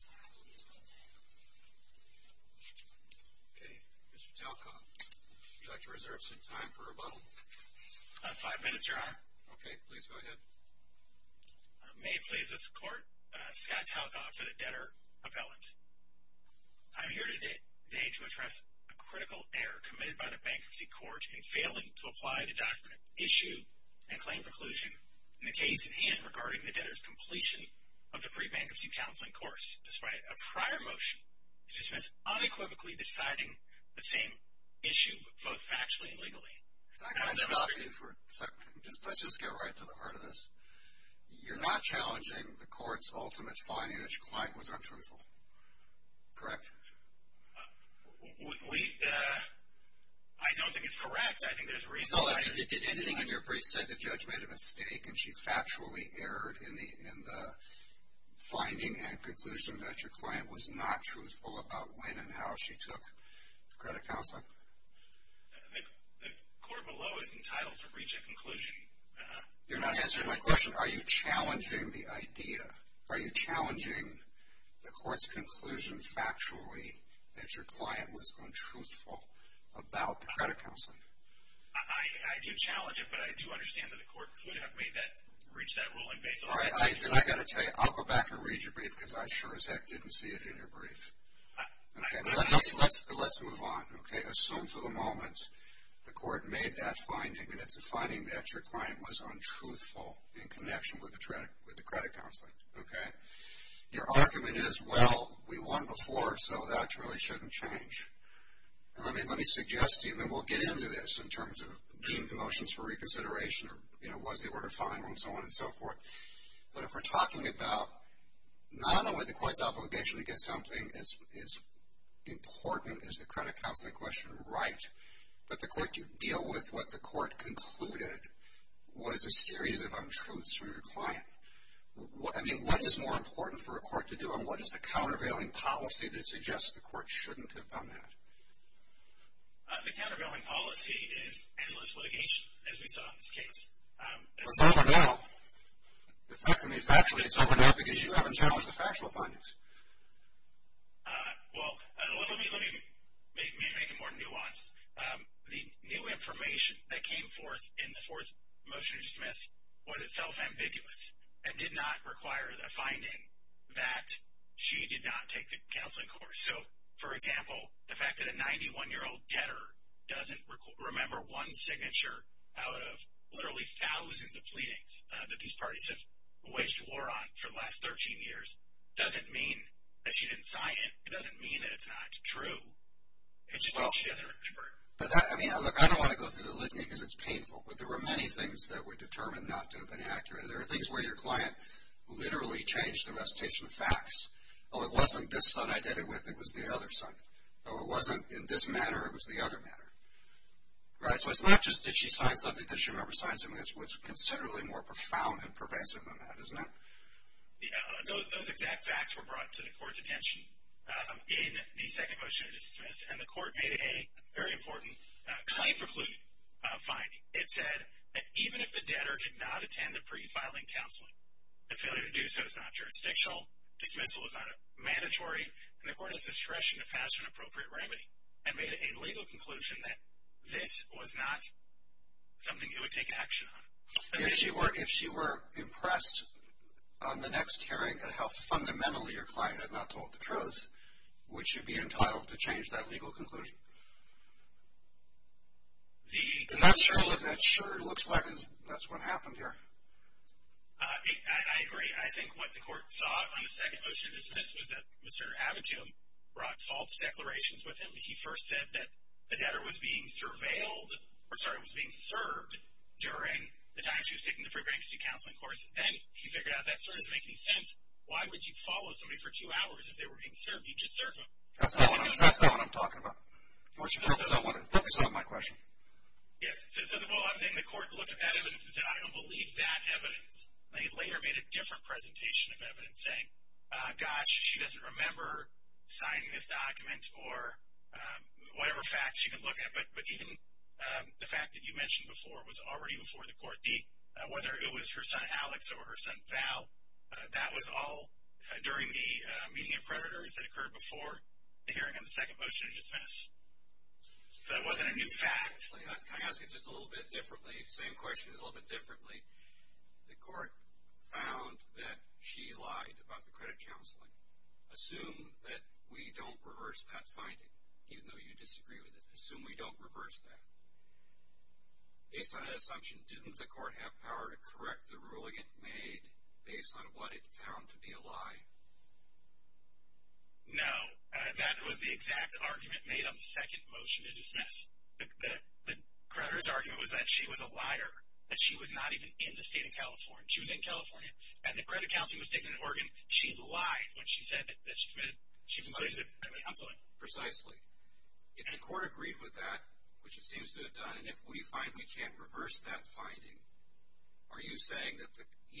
Mr. Talcott, would you like to reserve some time for rebuttal? About five minutes, Your Honor. Okay, please go ahead. May it please this Court, Scott Talcott for the debtor appellant. I am here today to address a critical error committed by the Bankruptcy Court in failing to apply the document Issue and Claim Preclusion in the case at hand regarding the debtor's completion of the pre-bankruptcy counseling course. Despite a prior motion to dismiss unequivocally deciding the same issue both factually and legally. Can I stop you for a second? Let's just get right to the heart of this. You're not challenging the Court's ultimate finding that your client was untruthful, correct? We, uh, I don't think it's correct. I think there's a reason why. No, I mean, did anything in your brief say the judge made a mistake and she factually erred in the finding and conclusion that your client was not truthful about when and how she took the credit counseling? The Court below is entitled to reach a conclusion. You're not answering my question. Are you challenging the idea? Are you challenging the Court's conclusion factually that your client was untruthful about the credit counseling? I do challenge it, but I do understand that the Court could have reached that ruling based on that. All right, then I've got to tell you, I'll go back and read your brief because I sure as heck didn't see it in your brief. Let's move on, okay? Assume for the moment the Court made that finding and it's a finding that your client was untruthful in connection with the credit counseling, okay? Your argument is, well, we won before, so that really shouldn't change. Let me suggest to you, and then we'll get into this in terms of being promotions for reconsideration or was the order final and so on and so forth, but if we're talking about not only the Court's obligation to get something as important as the credit counseling question right, but the Court to deal with what the Court concluded was a series of untruths from your client. I mean, what is more important for a Court to do than what is the countervailing policy that suggests the Court shouldn't have done that? The countervailing policy is endless litigation, as we saw in this case. It's over now. In fact, to me, it's over now because you haven't challenged the factual findings. Well, let me make it more nuanced. The new information that came forth in the fourth motion to dismiss was itself ambiguous and did not require a finding that she did not take the counseling course. So, for example, the fact that a 91-year-old debtor doesn't remember one signature out of literally thousands of pleadings that these parties have waged war on for the last 13 years doesn't mean that she didn't sign it. It doesn't mean that it's not true. It's just that she doesn't remember it. I mean, look, I don't want to go through the litany because it's painful, but there were many things that were determined not to have been accurate. There were things where your client literally changed the recitation of facts. Oh, it wasn't this son I did it with, it was the other son. Oh, it wasn't in this manner, it was the other manner. Right? So it's not just did she sign something, did she remember signing something. It's considerably more profound and pervasive than that, isn't it? Those exact facts were brought to the Court's attention in the second motion to dismiss, and the Court made a very important claim for pleading finding. It said that even if the debtor did not attend the pre-filing counseling, the failure to do so is not jurisdictional, dismissal is not mandatory, and the Court has discretion to pass an appropriate remedy. I made a legal conclusion that this was not something you would take action on. If she were impressed on the next hearing at how fundamentally your client had not told the truth, would she be entitled to change that legal conclusion? I'm not sure. It looks like that's what happened here. I agree. I think what the Court saw on the second motion to dismiss was that Mr. Abitum brought false declarations with him. He first said that the debtor was being surveilled, or sorry, was being served during the time she was taking the pre-bankruptcy counseling course, and then he figured out that sort of doesn't make any sense. Why would you follow somebody for two hours if they were being served? That's not what I'm talking about. Focus on my question. Yes. I'm saying the Court looked at that evidence and said, I don't believe that evidence. They later made a different presentation of evidence saying, gosh, she doesn't remember signing this document or whatever facts she can look at, but even the fact that you mentioned before was already before the Court. Whether it was her son Alex or her son Val, that was all during the meeting of creditors that occurred before the hearing on the second motion to dismiss. So that wasn't a new fact. Can I ask it just a little bit differently? Same question, just a little bit differently. The Court found that she lied about the credit counseling. Assume that we don't reverse that finding, even though you disagree with it. Assume we don't reverse that. Based on that assumption, didn't the Court have power to correct the ruling it made based on what it found to be a lie? No. That was the exact argument made on the second motion to dismiss. The creditor's argument was that she was a liar, that she was not even in the state of California. She was in California, and the credit counseling was taken in Oregon. She lied when she said that she was familiar with the credit counseling. Precisely. If the Court agreed with that, which it seems to have done, and if we find we can't reverse that finding, are you saying that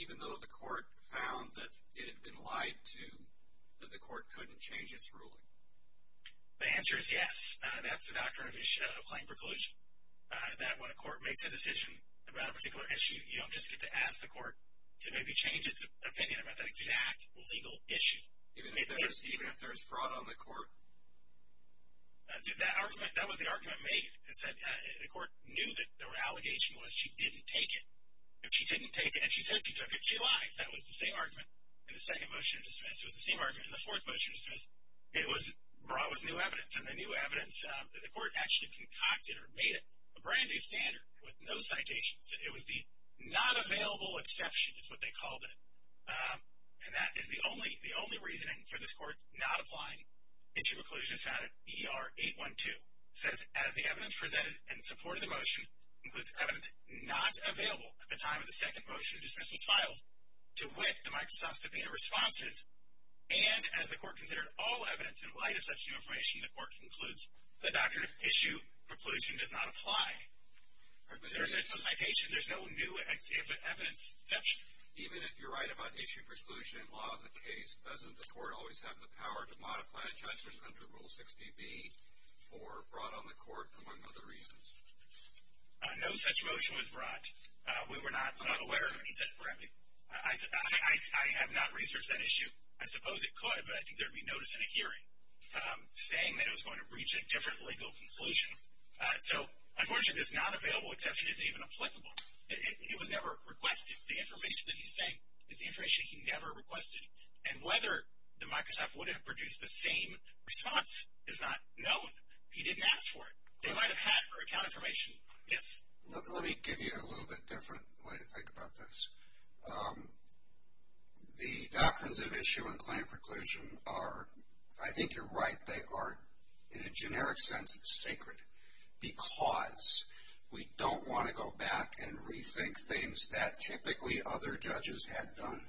even though the Court found that it had been lied to, that the Court couldn't change its ruling? The answer is yes. That's the doctrine of claim preclusion, that when a Court makes a decision about a particular issue, you don't just get to ask the Court to maybe change its opinion about that exact legal issue. Even if there's fraud on the Court? That was the argument made. The Court knew that the allegation was she didn't take it. If she didn't take it and she said she took it, she lied. That was the same argument in the second motion to dismiss. It was the same argument in the fourth motion to dismiss. It was brought with new evidence, and the new evidence that the Court actually concocted or made it a brand-new standard with no citations. It was the not-available exception is what they called it. And that is the only reasoning for this Court not applying. Issue preclusion is found in ER 812. It says, as the evidence presented in support of the motion includes evidence not available at the time of the second motion to dismiss was filed, to wit the Microsoft subpoena responses, and as the Court considered all evidence in light of such new information, the Court concludes the doctrine of issue preclusion does not apply. There's no citation. There's no new evidence exception. Even if you're right about issue preclusion in law of the case, doesn't the Court always have the power to modify a judgment under Rule 60B or brought on the Court among other reasons? No such motion was brought. We were not aware of any such brevity. I have not researched that issue. I suppose it could, but I think there would be notice in a hearing saying that it was going to reach a different legal conclusion. So, unfortunately, this not-available exception isn't even applicable. It was never requested. The information that he's saying is the information he never requested. And whether the Microsoft would have produced the same response is not known. He didn't ask for it. They might have had her account information. Yes? Let me give you a little bit different way to think about this. The doctrines of issue and claim preclusion are, I think you're right, they are, in a generic sense, sacred because we don't want to go back and rethink things that typically other judges had done.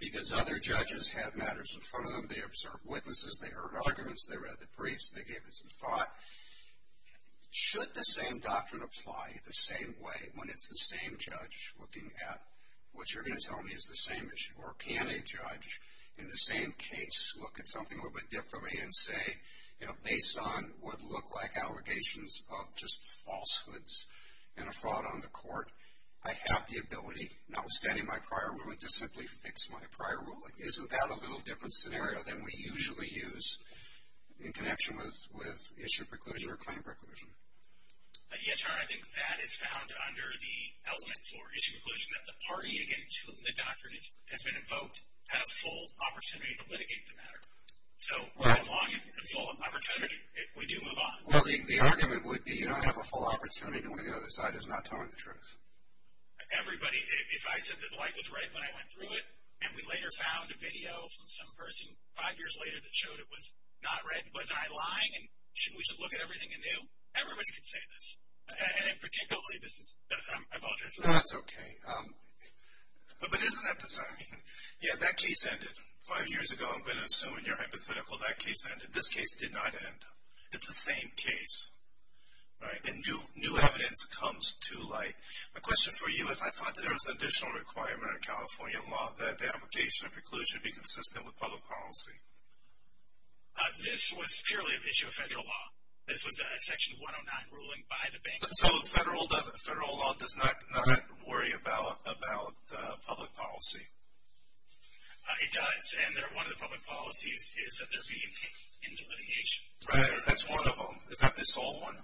Because other judges had matters in front of them. They observed witnesses. They heard arguments. They read the briefs. They gave it some thought. Should the same doctrine apply the same way when it's the same judge looking at what you're going to tell me is the same issue? Or can a judge, in the same case, look at something a little bit differently and say, you know, based on what look like allegations of just falsehoods and a fraud on the court, I have the ability, notwithstanding my prior ruling, to simply fix my prior ruling? Isn't that a little different scenario than we usually use in connection with issue preclusion or claim preclusion? Yes, Your Honor, I think that is found under the element for issue preclusion, that the party against whom the doctrine has been invoked had a full opportunity to litigate the matter. So, as long as it's a full opportunity, we do move on. Well, the argument would be you don't have a full opportunity to win when the other side is not telling the truth. Everybody, if I said that the light was red when I went through it, and we later found a video from some person five years later that showed it was not red, wasn't I lying and shouldn't we just look at everything anew? Everybody could say this. And particularly, this is, I apologize. No, that's okay. But isn't that the same? Yeah, that case ended five years ago. I'm going to assume in your hypothetical that case ended. This case did not end. It's the same case, right? And new evidence comes to light. My question for you is I thought that there was an additional requirement in California law that the application of preclusion be consistent with public policy. This was purely an issue of federal law. This was a Section 109 ruling by the bank. So federal law does not worry about public policy? It does. And one of the public policies is that there be an end to litigation. Right. That's one of them. Is that the sole one?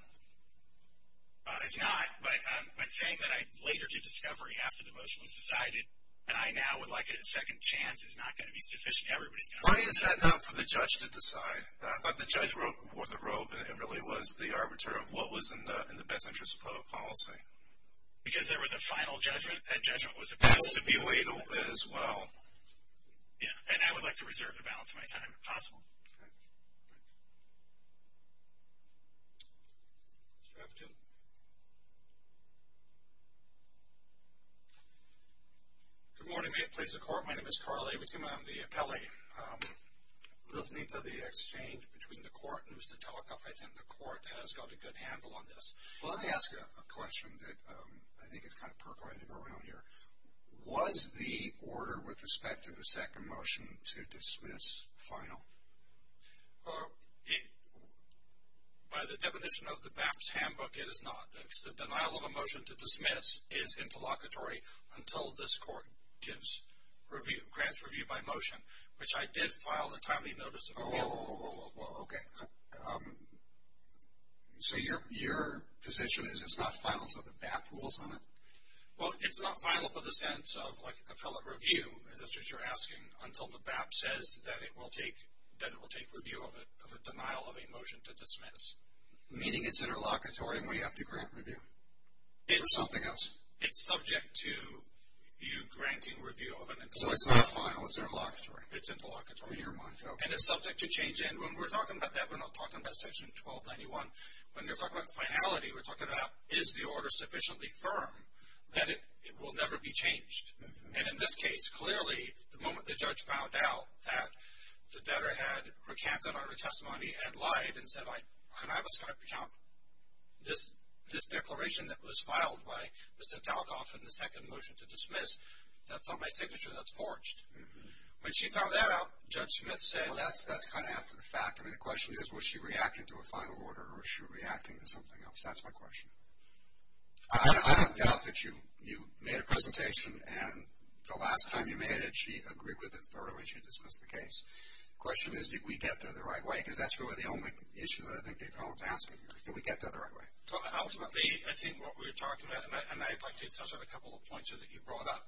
It's not. But saying that later to discovery after the motion was decided, and I now would like a second chance is not going to be sufficient. Why is that not for the judge to decide? I thought the judge wore the robe and it really was the arbiter of what was in the best interest of public policy. Because there was a final judgment. That judgment was about to be weighed as well. Yeah. And I would like to reserve the balance of my time if possible. Okay. Mr. Rafferty. Good morning. May it please the Court. My name is Carl Averteema. I'm the appellee. Listening to the exchange between the Court and Mr. Telekoff, I think the Court has got a good handle on this. Let me ask you a question that I think is kind of percolating around here. Was the order with respect to the second motion to dismiss final? By the definition of the BAPS handbook, it is not. The denial of a motion to dismiss is interlocutory until this Court grants review by motion, which I did file a timely notice of review. Oh, okay. So your position is it's not final until the BAPS rules on it? Well, it's not final for the sense of, like, appellate review, as you're asking, until the BAPS says that it will take review of a denial of a motion to dismiss. Meaning it's interlocutory and we have to grant review or something else? So it's not final. It's interlocutory. It's interlocutory. And it's subject to change. And when we're talking about that, we're not talking about Section 1291. When we're talking about finality, we're talking about, is the order sufficiently firm that it will never be changed? And in this case, clearly, the moment the judge found out that the debtor had recanted on her testimony and lied and said, can I have a Skype account, this declaration that was filed by Mr. Telekoff in the second motion to dismiss, that's on my signature that's forged. When she found that out, Judge Smith said. Well, that's kind of after the fact. I mean, the question is, was she reacting to a final order or was she reacting to something else? That's my question. I don't doubt that you made a presentation and the last time you made it she agreed with it thoroughly and she dismissed the case. The question is, did we get there the right way? Because that's really the only issue that I think David Holland is asking here. Did we get there the right way? Ultimately, I think what we're talking about, and I'd like to touch on a couple of points that you brought up.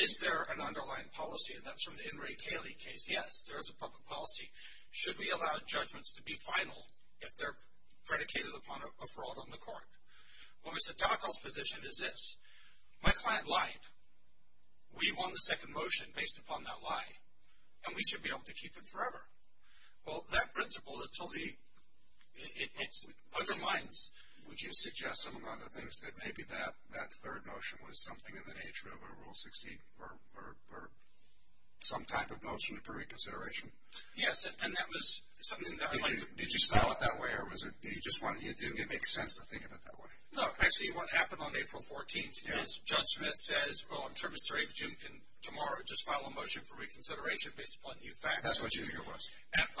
Is there an underlying policy? And that's from the In re Caeli case. Yes, there is a public policy. Should we allow judgments to be final if they're predicated upon a fraud on the court? Well, Mr. Telekoff's position is this. My client lied. We won the second motion based upon that lie, and we should be able to keep it forever. Well, that principle totally undermines. Would you suggest among other things that maybe that third motion was something in the nature of a Rule 16 or some type of motion for reconsideration? Yes, and that was something that I'd like to. Did you style it that way or did it make sense to think of it that way? No, actually what happened on April 14th is Judge Smith says, well, I'm sure Mr. Avedon can tomorrow just file a motion for reconsideration based upon new facts. That's what you think it was?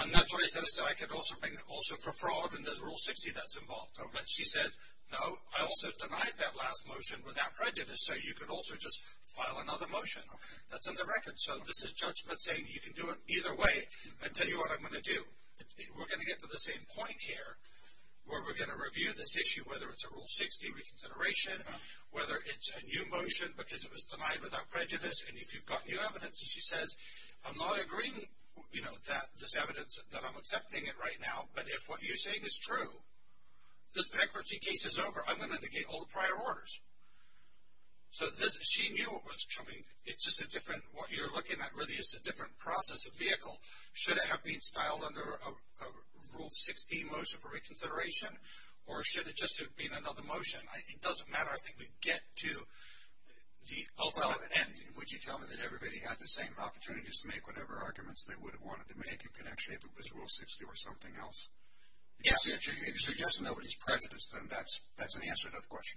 And that's what I said. I said I could also bring it also for fraud, and there's a Rule 60 that's involved. But she said, no, I also denied that last motion without prejudice, so you could also just file another motion that's on the record. So this is Judge Smith saying you can do it either way. I'll tell you what I'm going to do. We're going to get to the same point here where we're going to review this issue, whether it's a Rule 60 reconsideration, whether it's a new motion because it was denied without prejudice, and if you've got new evidence, and she says, I'm not agreeing, you know, that this evidence that I'm accepting it right now, but if what you're saying is true, this bankruptcy case is over, I'm going to negate all the prior orders. So she knew what was coming. It's just a different, what you're looking at really is a different process of vehicle. Should it have been styled under a Rule 60 motion for reconsideration, or should it just have been another motion? It doesn't matter. I think we get to the ultimate end. Would you tell me that everybody had the same opportunities to make whatever arguments they would have wanted to make in connection if it was Rule 60 or something else? Yes. If you're suggesting nobody's prejudiced, then that's an answer to the question.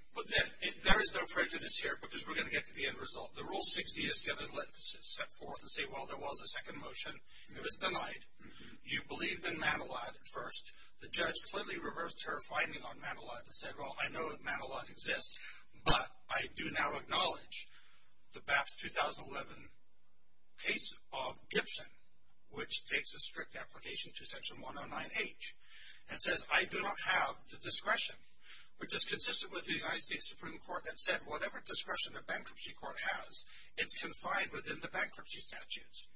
There is no prejudice here because we're going to get to the end result. The Rule 60 is going to let us step forth and say, well, there was a second motion. It was denied. You believed in Manilad at first. The judge completely reversed her finding on Manilad and said, well, I know that Manilad exists, but I do now acknowledge the BAPS 2011 case of Gibson, which takes a strict application to Section 109H, and says I do not have the discretion, which is consistent with the United States Supreme Court that said whatever discretion a bankruptcy court has, it's confined within the bankruptcy statutes.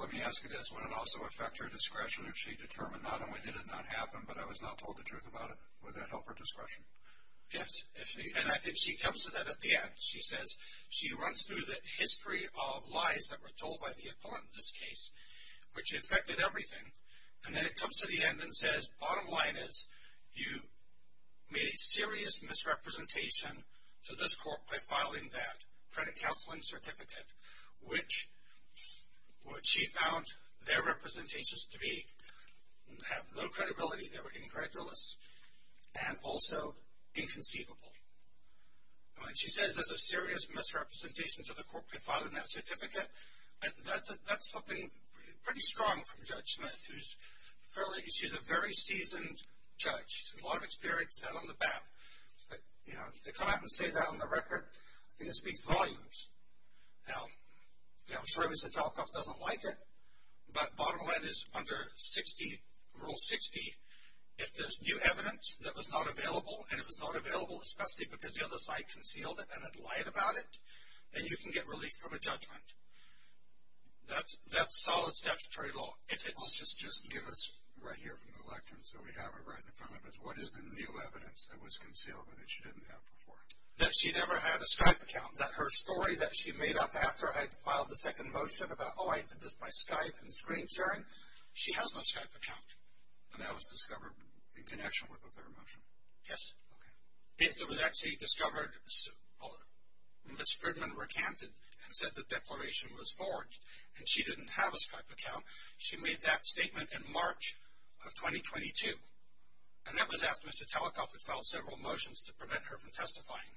Let me ask you this. Would it also affect her discretion if she determined not only did it not happen, but I was not told the truth about it? Would that help her discretion? Yes. And I think she comes to that at the end. She says she runs through the history of lies that were told by the opponent in this case, which affected everything. And then it comes to the end and says, bottom line is you made a serious misrepresentation to this court by filing that credit counseling certificate, which she found their representations to be, have low credibility, they were incredulous, and also inconceivable. She says there's a serious misrepresentation to the court by filing that certificate. That's something pretty strong from Judge Smith. She's a very seasoned judge. She has a lot of experience out on the BAP. To come out and say that on the record, I think it speaks volumes. Now, I'm sure Mr. Talcoff doesn't like it, but bottom line is under Rule 60, if there's new evidence that was not available, and it was not available especially because the other side concealed it and had lied about it, then you can get relief from a judgment. That's solid statutory law. I'll just give us right here from the lectern so we have it right in front of us. What is the new evidence that was concealed and that she didn't have before? That she never had a Skype account, that her story that she made up after I had filed the second motion about, oh, I did this by Skype and screen sharing, she has no Skype account. And that was discovered in connection with the third motion? Yes. Okay. It was actually discovered when Ms. Fridman recanted and said the declaration was forged, and she didn't have a Skype account. She made that statement in March of 2022. And that was after Mr. Talcoff had filed several motions to prevent her from testifying.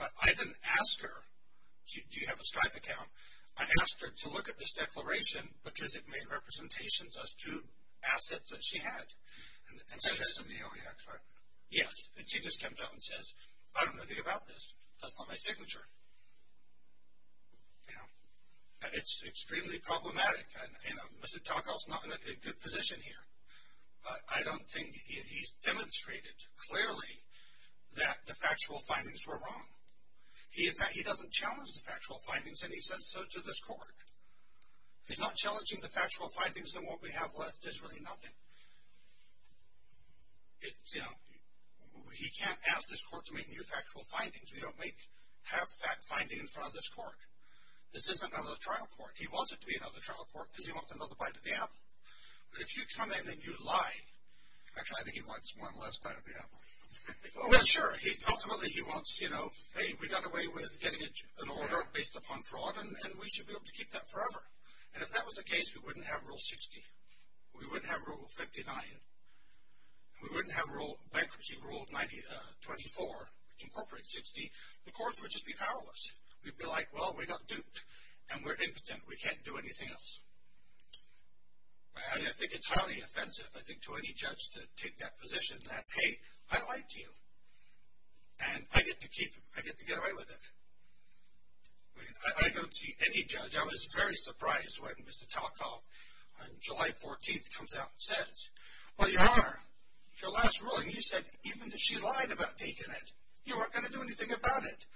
But I didn't ask her, do you have a Skype account? I asked her to look at this declaration because it made representations as two assets that she had. That's in the OEX, right? Yes. And she just comes out and says, I don't know anything about this. That's not my signature. You know, it's extremely problematic. You know, Mr. Talcoff is not in a good position here. I don't think he's demonstrated clearly that the factual findings were wrong. He doesn't challenge the factual findings, and he says so to this court. He's not challenging the factual findings and what we have left is really nothing. You know, he can't ask this court to make new factual findings. We don't have fact findings in front of this court. This isn't another trial court. He wants it to be another trial court because he wants another bite of the apple. But if you come in and you lie, actually, I think he wants one less bite of the apple. Well, sure, ultimately he wants, you know, hey, we got away with getting an order based upon fraud, and we should be able to keep that forever. And if that was the case, we wouldn't have Rule 60. We wouldn't have Rule 59. We wouldn't have Bankruptcy Rule 24, which incorporates 60. The courts would just be powerless. We'd be like, well, we got duped, and we're impotent. We can't do anything else. I think it's highly offensive, I think, to any judge to take that position that, hey, I lied to you, and I get to get away with it. I don't see any judge. Actually, I was very surprised when Mr. Talkoff on July 14th comes out and says, well, Your Honor, your last ruling, you said even if she lied about taking it, you weren't going to do anything about it.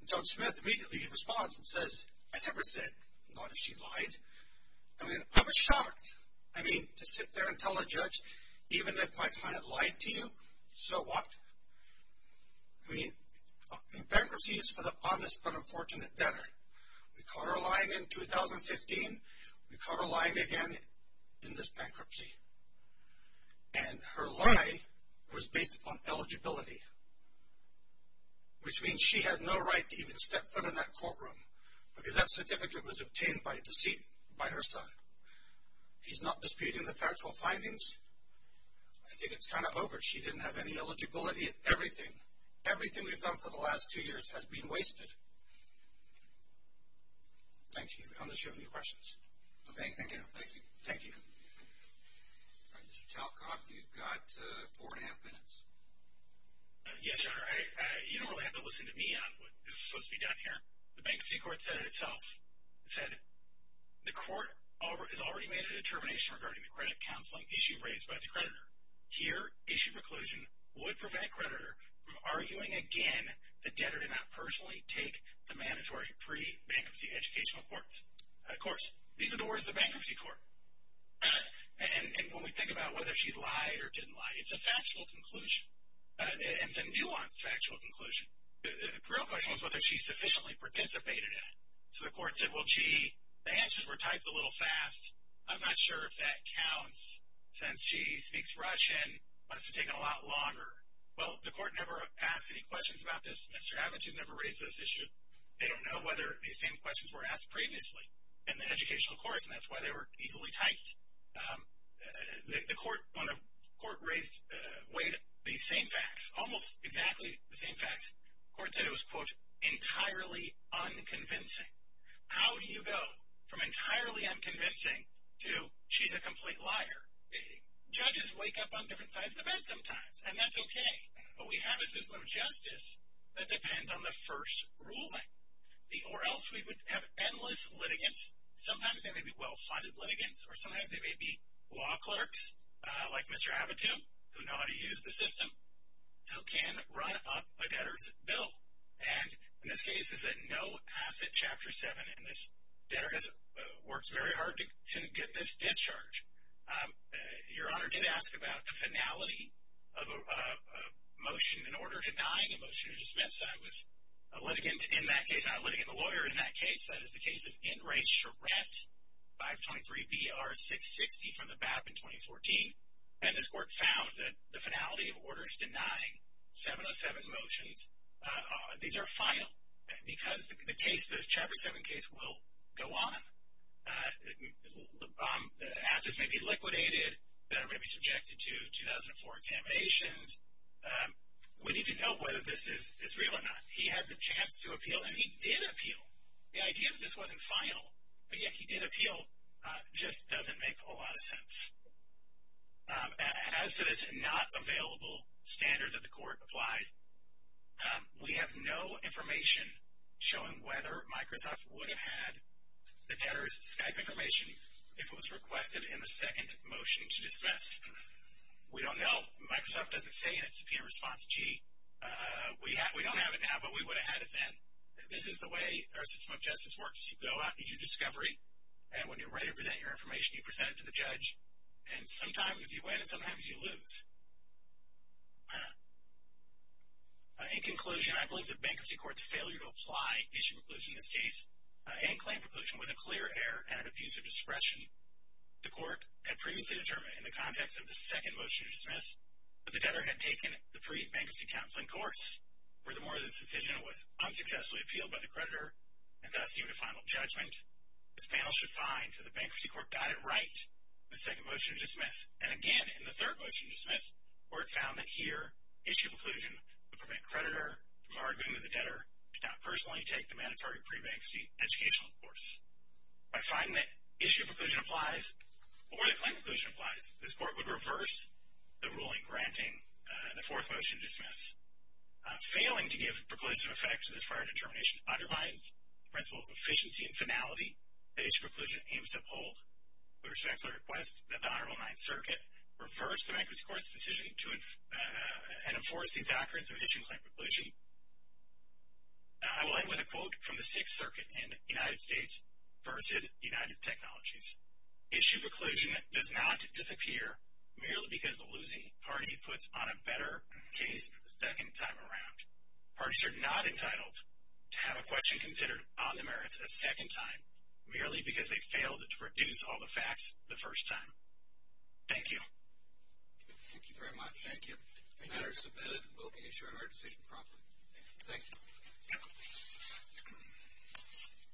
And Judge Smith immediately responds and says, I never said not if she lied. I mean, I was shocked. I mean, to sit there and tell a judge, even if my client lied to you, so what? I mean, bankruptcy is for the honest but unfortunate debtor. We caught her lying in 2015. We caught her lying again in this bankruptcy. And her lie was based upon eligibility, which means she had no right to even step foot in that courtroom because that certificate was obtained by deceit by her son. He's not disputing the factual findings. I think it's kind of over. She didn't have any eligibility. Everything, everything we've done for the last two years has been wasted. Thank you. I don't know if you have any questions. Okay. Thank you. Thank you. Mr. Talkoff, you've got four and a half minutes. Yes, Your Honor. You don't really have to listen to me on what is supposed to be done here. The bankruptcy court said it itself. It said the court has already made a determination regarding the credit counseling issue raised by the creditor. Here, issue preclusion would prevent creditor from arguing again the debtor did not personally take the mandatory pre-bankruptcy educational course. These are the words of the bankruptcy court. And when we think about whether she lied or didn't lie, it's a factual conclusion. And it's a nuanced factual conclusion. The real question was whether she sufficiently participated in it. So the court said, well, gee, the answers were typed a little fast. I'm not sure if that counts since she speaks Russian. It must have taken a lot longer. Well, the court never asked any questions about this. Mr. Abbott, you've never raised this issue. They don't know whether these same questions were asked previously in the educational course, and that's why they were easily typed. The court raised the same facts, almost exactly the same facts. The court said it was, quote, entirely unconvincing. How do you go from entirely unconvincing, to she's a complete liar? Judges wake up on different sides of the bed sometimes, and that's okay. What we have is this little justice that depends on the first ruling. Or else we would have endless litigants. Sometimes they may be well-funded litigants, or sometimes they may be law clerks, like Mr. Abbott, who know how to use the system, who can run up a debtor's bill. And in this case, it's a no-asset Chapter 7, and this debtor works very hard to get this discharge. Your Honor did ask about the finality of a motion, an order denying a motion to dismiss. That was a litigant in that case, not a litigant, a lawyer in that case. That is the case of N. Ray Charette, 523 B.R. 660 from the BAP in 2014. And this Court found that the finality of orders denying 707 motions, these are final, because the case, the Chapter 7 case, will go on. Assets may be liquidated, may be subjected to 2004 examinations. We need to know whether this is real or not. He had the chance to appeal, and he did appeal. The idea that this wasn't final, but yet he did appeal, just doesn't make a lot of sense. As to this not available standard that the Court applied, we have no information showing whether Microsoft would have had the debtor's Skype information if it was requested in the second motion to dismiss. We don't know. Microsoft doesn't say in its subpoena response, gee, we don't have it now, but we would have had it then. This is the way our system of justice works. You go out, you do discovery, and when you're ready to present your information, you present it to the judge, and sometimes you win and sometimes you lose. In conclusion, I believe that the Bankruptcy Court's failure to apply issue preclusion in this case and claim preclusion was a clear error and an abuse of discretion. The Court had previously determined in the context of the second motion to dismiss that the debtor had taken the pre-bankruptcy counseling course. Furthermore, this decision was unsuccessfully appealed by the creditor, and thus, due to final judgment, this panel should find that the Bankruptcy Court got it right in the second motion to dismiss. And again, in the third motion to dismiss, the Court found that here issue preclusion would prevent creditor from arguing with the debtor to not personally take the mandatory pre-bankruptcy educational course. By finding that issue preclusion applies or that claim preclusion applies, this Court would reverse the ruling granting the fourth motion to dismiss. Failing to give preclusive effect to this prior determination undermines the principle of efficiency and finality that issue preclusion aims to uphold. I respectfully request that the Honorable Ninth Circuit reverse the Bankruptcy Court's decision and enforce these doctrines of issue and claim preclusion. I will end with a quote from the Sixth Circuit in the United States versus United Technologies. Issue preclusion does not disappear merely because the losing party puts on a better case the second time around. Parties are not entitled to have a question considered on the merits a second time merely because they failed to produce all the facts the first time. Thank you. Thank you very much. Thank you. The matter is submitted, and we'll be ensuring our decision promptly. Thank you. Thank you.